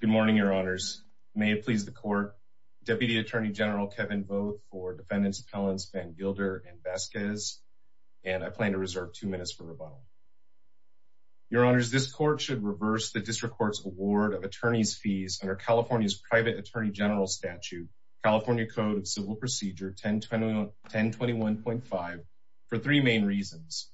Good morning, Your Honors. May it please the Court, Deputy Attorney General Kevin Vogt for defendants Appellants Vangilder and Vasquez, and I plan to reserve two minutes for rebuttal. Your Honors, this Court should reverse the District Court's award of attorneys' fees under California's private attorney general statute, California Code of Civil Procedure 1021.5, for three main reasons.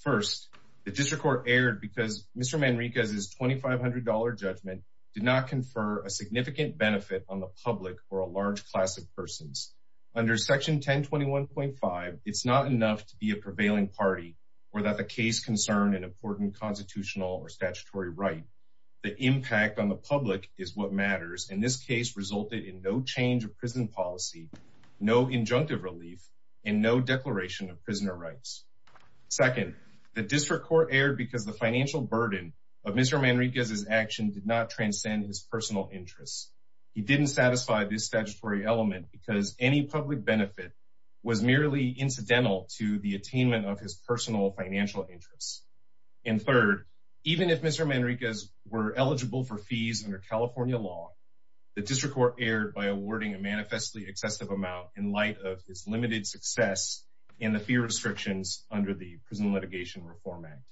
First, the District Court erred because Mr. Manriquez's $2,500 judgment did not confer a significant benefit on the public or a large class of persons. Under Section 1021.5, it's not enough to be a prevailing party or that the case concern an important constitutional or statutory right. The impact on the public is what matters, and this case resulted in no change of prison policy, no injunctive relief, and no declaration of prisoner rights. Second, the District Court erred because the financial burden of Mr. Manriquez's action did not transcend his personal interests. He didn't satisfy this statutory element because any public benefit was merely incidental to the attainment of his personal financial interests. And third, even if Mr. Manriquez were eligible for fees under California law, the District Court erred by under the Prison Litigation Reform Act.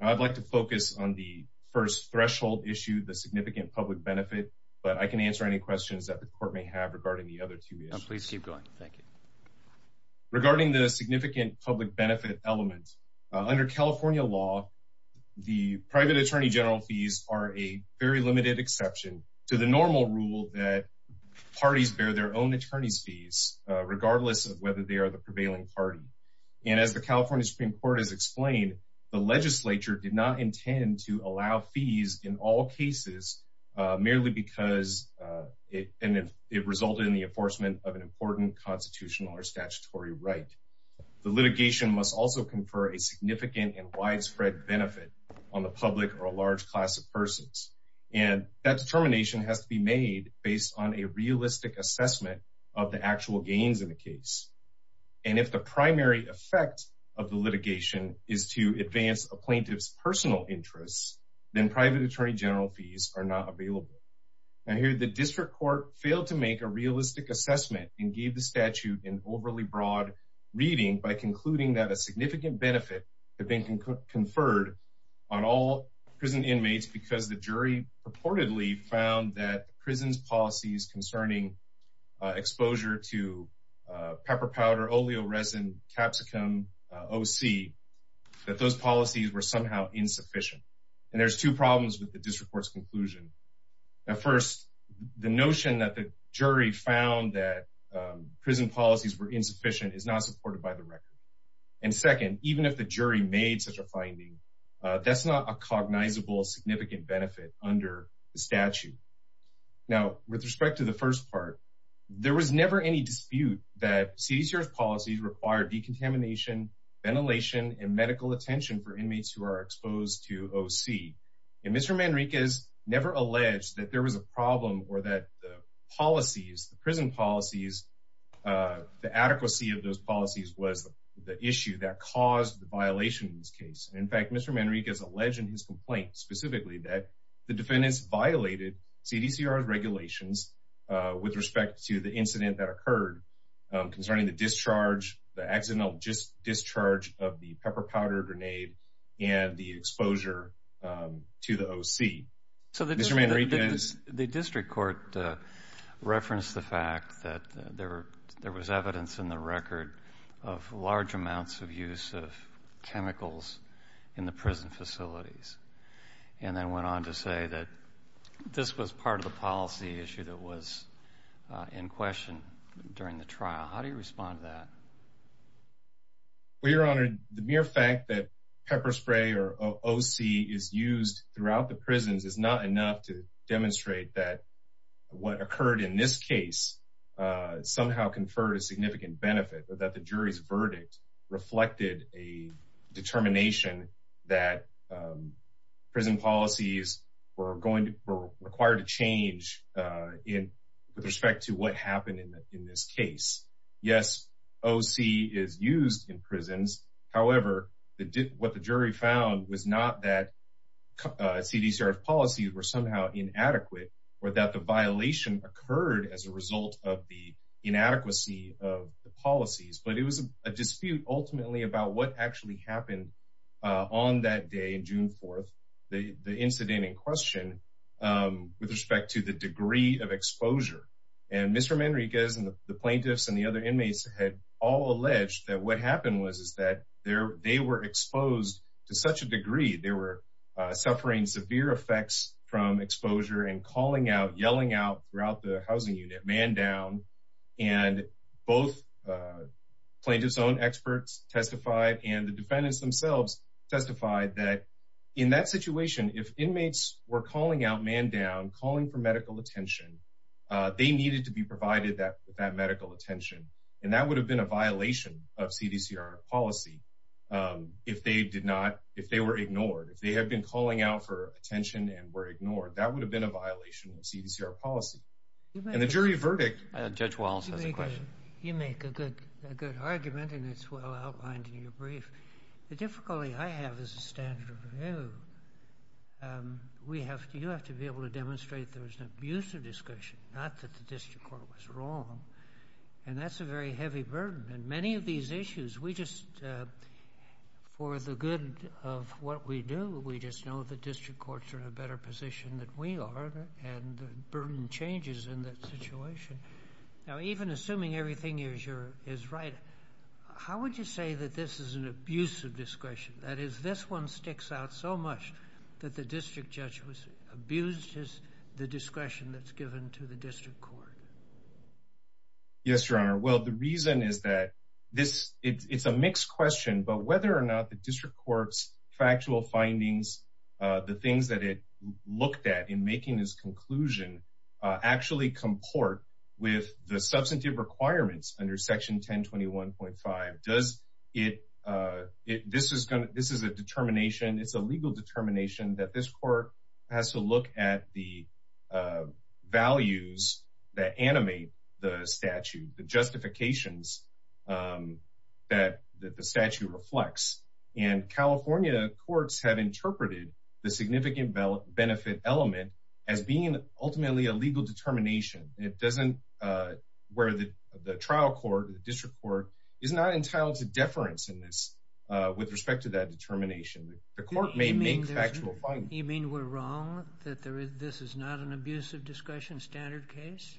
I'd like to focus on the first threshold issue, the significant public benefit, but I can answer any questions that the Court may have regarding the other two issues. Please keep going. Thank you. Regarding the significant public benefit element, under California law, the private attorney general fees are a very limited exception to the normal rule that parties bear their own attorneys' fees, regardless of whether they are the prevailing party. And as the California Supreme Court has explained, the legislature did not intend to allow fees in all cases merely because it resulted in the enforcement of an important constitutional or statutory right. The litigation must also confer a significant and widespread benefit on the public or a large class of persons, and that determination has to be made based on a realistic assessment of the actual gains in the case. And if the primary effect of the litigation is to advance a plaintiff's personal interests, then private attorney general fees are not available. Now here, the District Court failed to make a realistic assessment and gave the statute an overly broad reading by concluding that a significant benefit had been conferred on all prison inmates because the jury purportedly found that the prison's policies concerning exposure to pepper powder, oleo resin, capsicum, OC, that those policies were somehow insufficient. And there's two problems with the District Court's conclusion. Now first, the notion that the jury found that prison policies were insufficient is not supported by the record. And second, even if the jury made such a finding, that's not a cognizable significant benefit under the statute. Now, with respect to the first part, there was never any dispute that CDCR's policies require decontamination, ventilation, and medical attention for inmates who are exposed to OC. And Mr. Manriquez never alleged that there was a problem or that the policies, the prison policies, the adequacy of those policies was the issue that caused the violation in this case. In fact, Mr. Manriquez alleged in his complaint specifically that the defendants violated CDCR's regulations with respect to the incident that occurred concerning the discharge, the accidental discharge of the pepper powder grenade and the exposure to the OC. So the District Court referenced the fact that there were there was evidence in the record of large amounts of use of chemicals in the prison facilities and then went on to say that this was part of the policy issue that was in question during the trial. How do you respond to that? Well, Your Honor, the mere fact that pepper spray or OC is used throughout the prisons is not enough to demonstrate that what occurred in this case somehow conferred a significant benefit or that the jury's verdict reflected a determination that prison policies were going to, required to change with respect to what happened in this case. Yes, OC is used in prisons. However, what the jury found was not that CDCR's policies were somehow inadequate or that the violation occurred as a result of the inadequacy of the policies, but it was a dispute ultimately about what actually happened on that day, June 4th, the incident in question with respect to the degree of exposure. And Mr. Manriquez and the plaintiffs and the other inmates had all alleged that what happened was is that they were exposed to such a degree, they were suffering severe effects from exposure and calling out, yelling out throughout the housing unit, man down. And both plaintiff's own experts testified and the defendants themselves testified that in that situation, if inmates were calling out man down, calling for medical attention, they needed to be provided that medical attention. And that would have been a violation of CDCR policy if they did not, if they were ignored, if they had been calling out for attention and were ignored, that would have been a violation of CDCR policy. And the jury verdict. Judge Wallace has a question. You make a good argument and it's well outlined in your brief. The difficulty I have as a standard of review, we have to, you have to be able to demonstrate there was an abuse of discretion, not that the district court was wrong. And that's a very heavy burden. And many of these issues we just, for the good of what we do, we just know the district courts are in a better position than we are. And the burden changes in that situation. Now, even assuming everything is right, how would you say that this is an abuse of discretion? That is, this one sticks out so much that the district judge was abused the discretion that's given to the district court? Yes, Your Honor. Well, the reason is that this, it's a mixed question, but whether or not the conclusion actually comport with the substantive requirements under Section 1021.5, does it, this is a determination, it's a legal determination that this court has to look at the values that animate the statute, the justifications that the statute reflects. And California courts have interpreted the significant benefit element as being ultimately a legal determination. It doesn't, where the trial court, the district court is not entitled to deference in this with respect to that determination. The court may make factual findings. You mean we're wrong, that this is not an abuse of discretion standard case?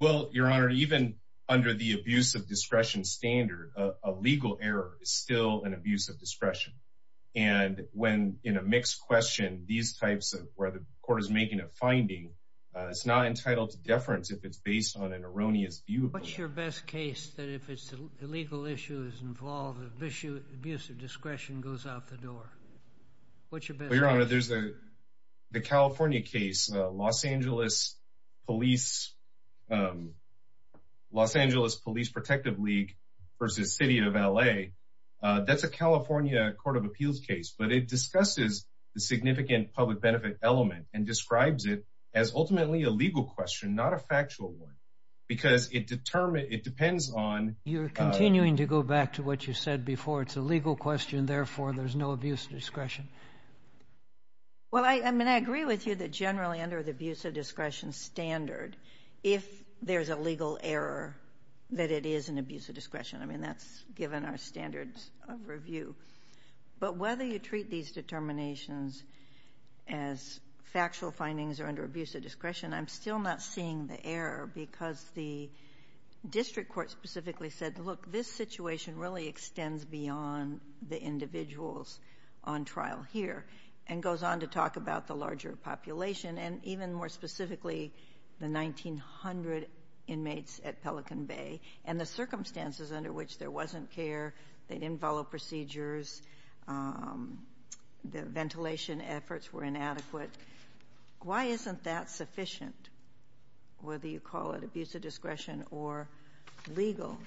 Well, Your Honor, even under the abuse of discretion standard, a legal error is still an abuse of discretion. And when in a mixed question, these types of, where the court is making a finding, it's not entitled to deference if it's based on an erroneous view. What's your best case that if it's a legal issue is involved, abuse of discretion goes out the door? What's Los Angeles Police Protective League versus City of L.A.? That's a California Court of Appeals case, but it discusses the significant public benefit element and describes it as ultimately a legal question, not a factual one, because it determines, it depends on. You're continuing to go back to what you said before. It's a legal question, therefore there's no abuse of discretion. Well, I mean, I agree with you that generally under the abuse of discretion standard, if there's a legal error, that it is an abuse of discretion. I mean, that's given our standards of review. But whether you treat these determinations as factual findings or under abuse of discretion, I'm still not seeing the error because the district court specifically said, look, this situation really extends beyond the individuals on trial here and goes on to talk about the larger population and even more specifically the 1,900 inmates at Pelican Bay and the circumstances under which there wasn't care, they didn't follow procedures, the ventilation efforts were inadequate. Why isn't that sufficient, whether you call it abuse of discretion or legal,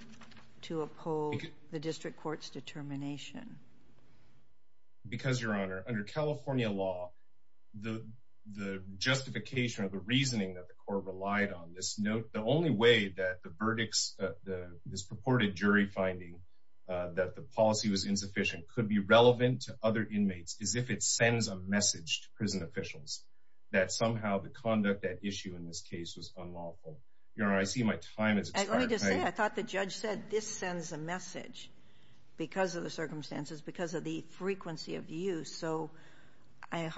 to uphold the district court's determination? Because, Your Honor, under California law, the justification or the reasoning that the court relied on, the only way that the verdicts, this purported jury finding that the policy was insufficient could be relevant to other inmates is if it sends a message to prison officials that somehow the conduct, that issue in this case was unlawful. Your Honor, I see my time has expired. Let me just say, I thought the judge said this sends a message because of the circumstances, because of the frequency of use. So I'm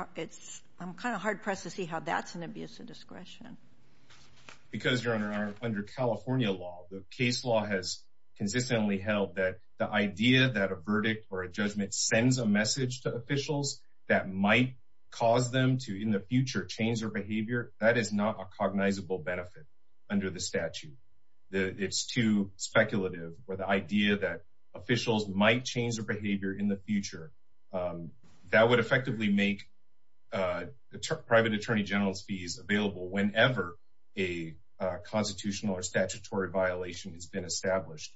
kind of hard-pressed to see how that's an abuse of discretion. Because, Your Honor, under California law, the case law has consistently held that the idea that a verdict or a judgment sends a message to officials that might cause them to, in the future, change their behavior, that is not a cognizable benefit under the statute. It's too speculative where the idea that officials might change their behavior in the future, that would effectively make private attorney general's fees available whenever a constitutional or statutory violation has been established.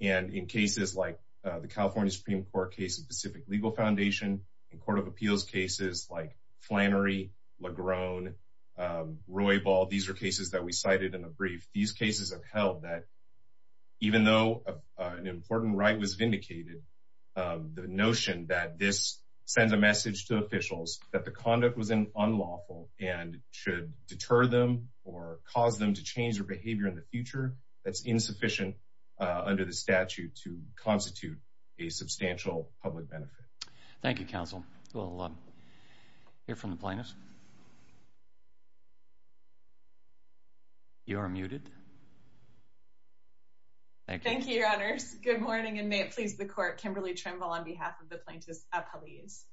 And in cases like the California Supreme Court case of Pacific Legal Foundation, in court of appeals cases like Flannery, Legrone, Roybal, these are cases that we cited in a brief. These cases have held that even though an important right was vindicated, the notion that this sends a message to officials that the conduct was unlawful and should deter them or cause them to change their behavior in the future, that's insufficient under the statute to constitute a substantial public benefit. Thank you, counsel. We'll hear from the plaintiffs. You are muted. Thank you, Your Honors. Good morning, and may it please the court. Kimberly Trimble on behalf of the plaintiffs at police.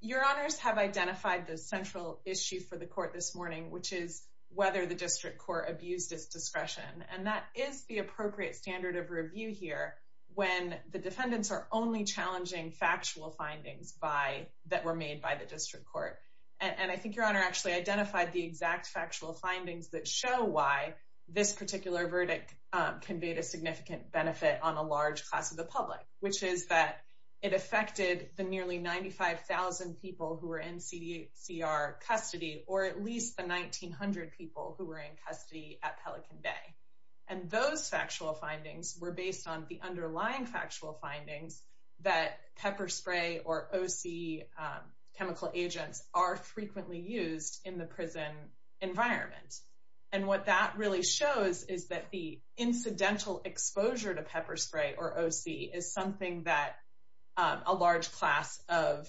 Your Honors have identified the central issue for the court this morning, which is whether the district court abused its discretion. And that is the appropriate standard of review here when the defendants are only challenging factual findings that were made by the district court. And I think Your Honor actually identified the exact factual findings that show why this particular verdict conveyed a significant benefit on a large class of the public, which is that it affected the nearly 95,000 people who were in CDCR custody, or at least the 1,900 people who were in custody at Pelican Bay. And those factual findings were based on the underlying factual findings that pepper spray or OC chemical agents are frequently used in the prison environment. And what that really shows is that the incidental exposure to pepper spray or OC is something that a large class of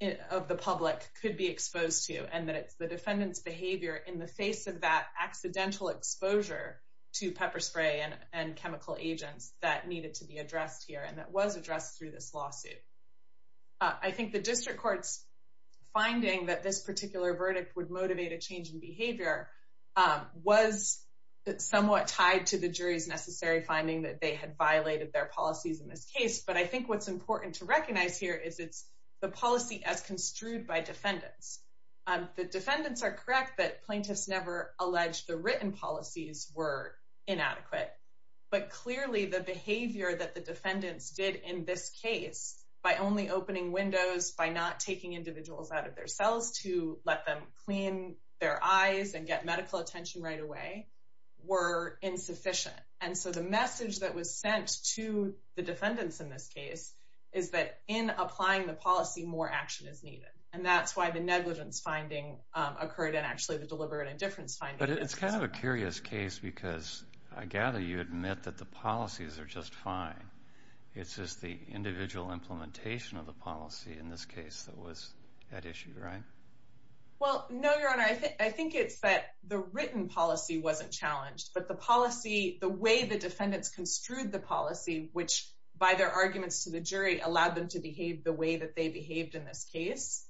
the public could be exposed to, and that the defendant's behavior in the face of that accidental exposure to pepper spray and chemical agents that needed to be addressed here, and that was addressed through this lawsuit. I think the district court's finding that this particular verdict would motivate a change in behavior was somewhat tied to the jury's necessary finding that they had violated their policies in this case. But I think what's important to recognize here is it's the policy as construed by defendants. The defendants are correct that plaintiffs never alleged the written policies were inadequate, but clearly the behavior that the defendants did in this case by only opening windows, by not taking individuals out of their cells to let them clean their eyes and get medical attention right away were insufficient. And so the message that was sent to the defendants in this is that in applying the policy, more action is needed. And that's why the negligence finding occurred and actually the deliberate indifference finding. But it's kind of a curious case because I gather you admit that the policies are just fine. It's just the individual implementation of the policy in this case that was at issue, right? Well, no, Your Honor. I think it's that the written policy wasn't challenged, but the policy, the way the defendants construed the jury allowed them to behave the way that they behaved in this case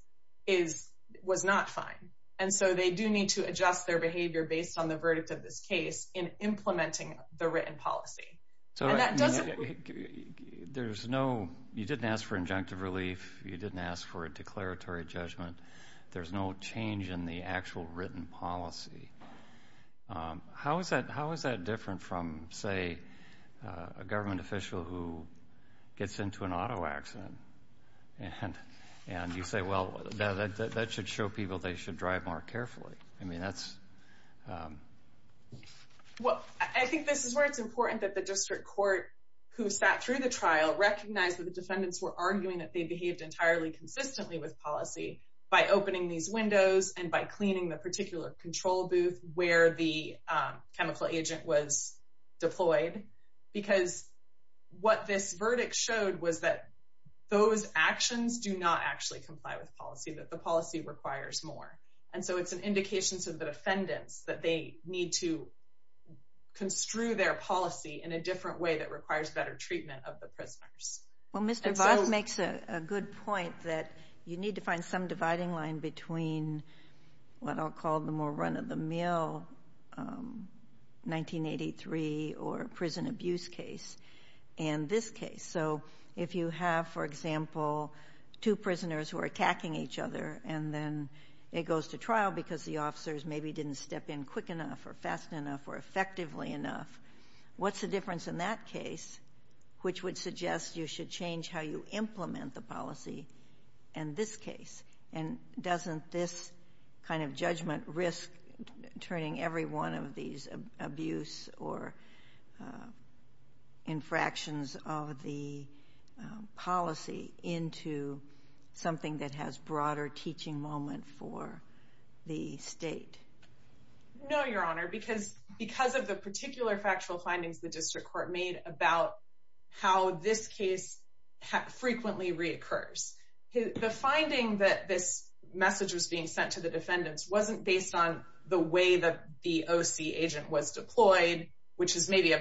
was not fine. And so they do need to adjust their behavior based on the verdict of this case in implementing the written policy. And that doesn't... There's no... You didn't ask for injunctive relief. You didn't ask for a declaratory judgment. There's no change in the actual written policy. How is that different from, say, a government official who gets into an auto accident and you say, well, that should show people they should drive more carefully? I mean, that's... Well, I think this is where it's important that the district court who sat through the trial recognized that the defendants were arguing that they behaved entirely consistently with policy by opening these windows and by cleaning the particular control booth where the chemical agent was deployed. Because what this verdict showed was that those actions do not actually comply with policy, that the policy requires more. And so it's an indication to the defendants that they need to construe their policy in a different way that requires better treatment of the prisoners. Well, Mr. Voss makes a good point that you need to find some dividing line between what I'll call the more run-of-the-mill 1983 or prison abuse case and this case. So if you have, for example, two prisoners who are attacking each other and then it goes to trial because the officers maybe didn't step in quick enough or fast enough or effectively enough, what's the difference in that case, which would suggest you should change how you implement the policy, and this case? And doesn't this kind of judgment risk turning every one of these abuse or infractions of the policy into something that has broader teaching moment for the state? No, Your Honor, because of the how this case frequently reoccurs. The finding that this message was being sent to the defendants wasn't based on the way that the OC agent was deployed, which is maybe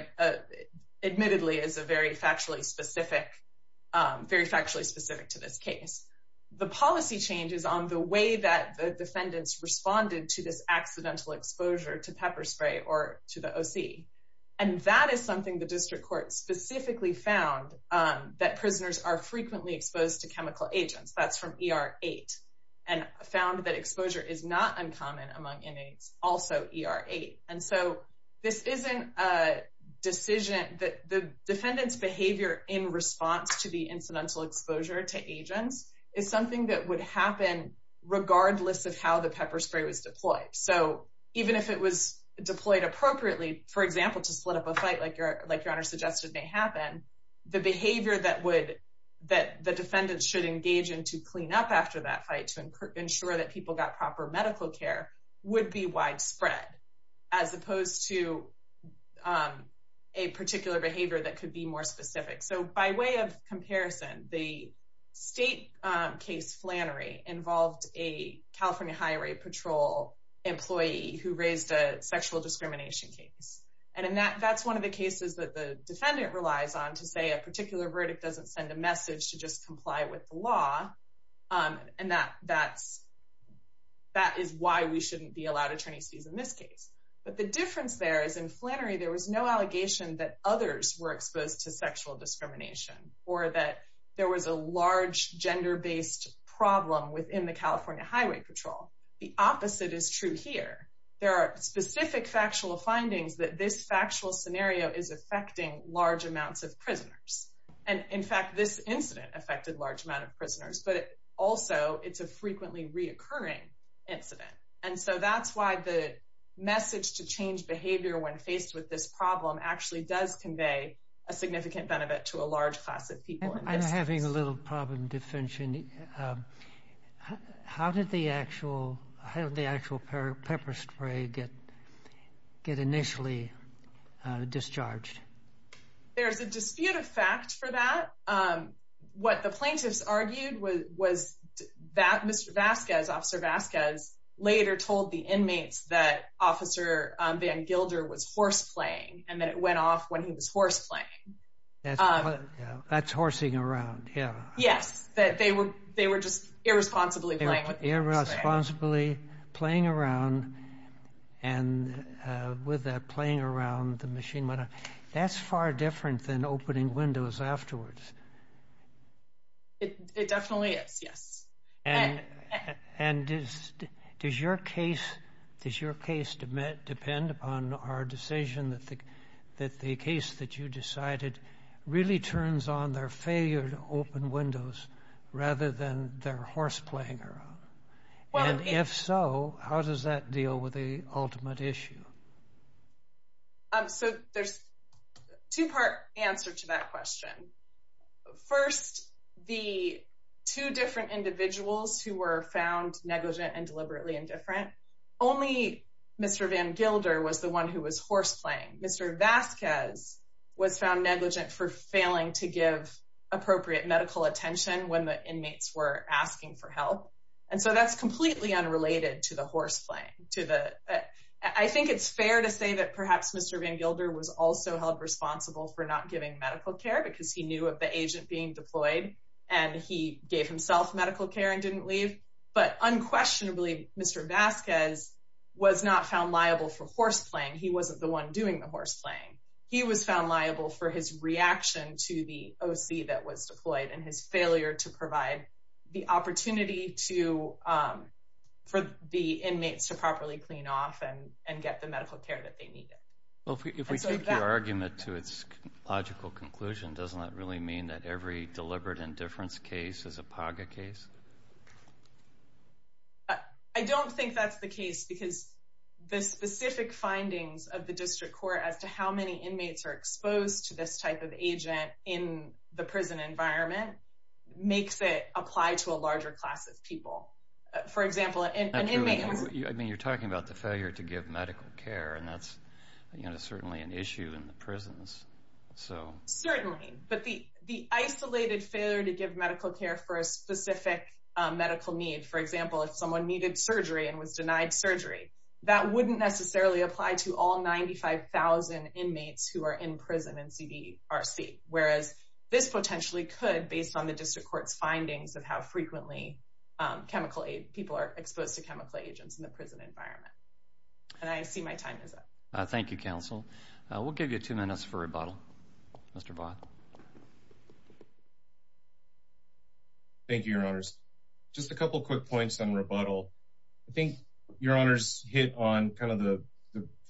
admittedly is a very factually specific, very factually specific to this case. The policy changes on the way that the defendants responded to this accidental exposure to pepper spray or to the OC. And that is something the district court specifically found that prisoners are frequently exposed to chemical agents. That's from ER 8 and found that exposure is not uncommon among inmates, also ER 8. And so this isn't a decision that the defendant's behavior in response to the incidental exposure to agents is something that would happen regardless of how the pepper spray was deployed. So even if it was deployed appropriately, for example, to split up a fight like Your Honor suggested may happen, the behavior that the defendants should engage in to clean up after that fight to ensure that people got proper medical care would be widespread as opposed to a particular behavior that could be more specific. So by way of comparison, the state case flannery involved a California Highway Patrol employee who raised a sexual discrimination case. And that's one of the cases that the defendant relies on to say a particular verdict doesn't send a message to just comply with the law. And that is why we shouldn't be allowed attorneys fees in this case. But the difference there is in Flannery, there was no allegation that others were exposed to the California Highway Patrol. The opposite is true here. There are specific factual findings that this factual scenario is affecting large amounts of prisoners. And in fact, this incident affected large amount of prisoners, but also it's a frequently reoccurring incident. And so that's why the message to change behavior when faced with this problem actually does convey a significant benefit to a large class of people. I'm having a little problem defension. How did the actual pepper spray get initially discharged? There's a dispute of fact for that. What the plaintiffs argued was that Mr. Vasquez, Officer Vasquez, later told the inmates that Officer Van Gilder was horse playing, and that it went off when he was horse playing. That's horsing around, yeah. Yes, that they were just irresponsibly playing with the spray. Irresponsibly playing around, and with that playing around, the machine went off. That's far different than opening windows afterwards. It definitely is, yes. And does your case depend upon our decision that the case that you decided really turns on their failure to open windows, rather than their horse playing around? And if so, how does that deal with the ultimate issue? So there's a two-part answer to that question. First, the two different individuals who were found negligent and deliberately indifferent, only Mr. Van Gilder was the one who was horse playing. Mr. Vasquez was found negligent for failing to give appropriate medical attention when the inmates were asking for help. And so that's completely unrelated to the horse playing. I think it's fair to say that perhaps Mr. Van Gilder was also held responsible for not giving medical care, because he knew of the agent being deployed, and he gave himself medical care and didn't leave. But unquestionably, Mr. Vasquez was not found liable for horse playing. He wasn't the one doing the horse playing. He was found liable for his reaction to the OC that was deployed, and his failure to provide the opportunity for the inmates to properly clean off and get the medical care that they needed. Well, if we take your argument to its logical conclusion, doesn't that really mean that every deliberate indifference case is a PAGA case? I don't think that's the case, because the specific findings of the district court as to how many inmates are exposed to this type of agent in the prison environment makes it apply to a larger class of people. I mean, you're talking about the failure to give medical care, and that's certainly an issue in the prisons. Certainly. But the isolated failure to give medical care for a specific medical need, for example, if someone needed surgery and was inmates who are in prison in CDRC, whereas this potentially could based on the district court's findings of how frequently people are exposed to chemical agents in the prison environment. And I see my time is up. Thank you, counsel. We'll give you two minutes for rebuttal. Mr. Vaughn. Thank you, your honors. Just a couple quick points on rebuttal. I think your honors hit on kind of the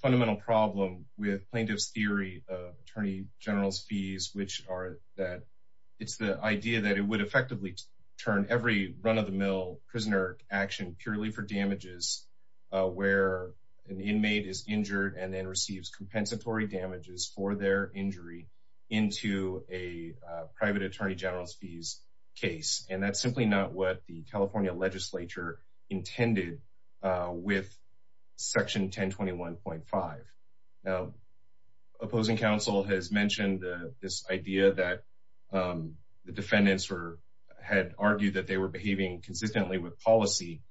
fundamental problem with plaintiff's theory of attorney general's fees, which are that it's the idea that it would effectively turn every run of the mill prisoner action purely for damages, where an inmate is injured and then receives compensatory damages for their injury into a private attorney general's fees case. And that's simply not what the California legislature intended with section 1021.5. Now, opposing counsel has mentioned this idea that the defendants had argued that they were behaving consistently with policy.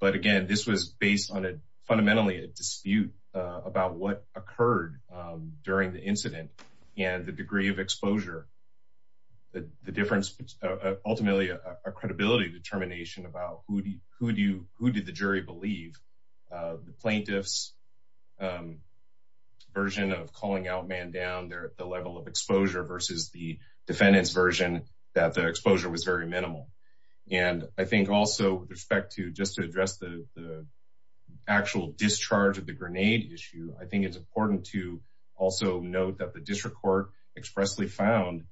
But again, this was based on fundamentally a dispute about what occurred during the incident and the degree of exposure, the difference, ultimately a credibility determination about who did the jury believe. The plaintiff's version of calling out man down there at the level of exposure versus the defendant's version that the exposure was very minimal. And I think also, with respect to just to address the actual discharge of the grenade issue, I think it's important to also note that the district court expressly found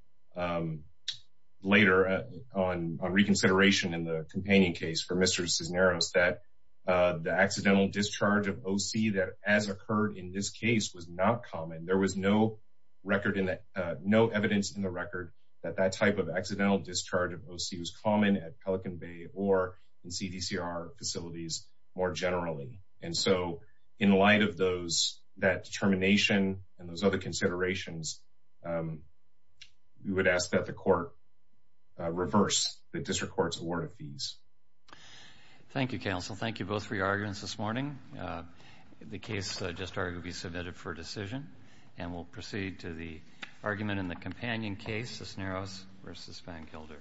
later on reconsideration in the painting case for Mr. Cisneros, that the accidental discharge of OC that as occurred in this case was not common. There was no record in that, no evidence in the record that that type of accidental discharge of OC was common at Pelican Bay or in CDCR facilities more generally. And so in light of those, that determination and those other considerations, we would ask that the court reverse the district court's award of fees. Thank you, counsel. Thank you both for your arguments this morning. The case just arguably submitted for decision, and we'll proceed to the argument in the companion case, Cisneros versus Van Kilder.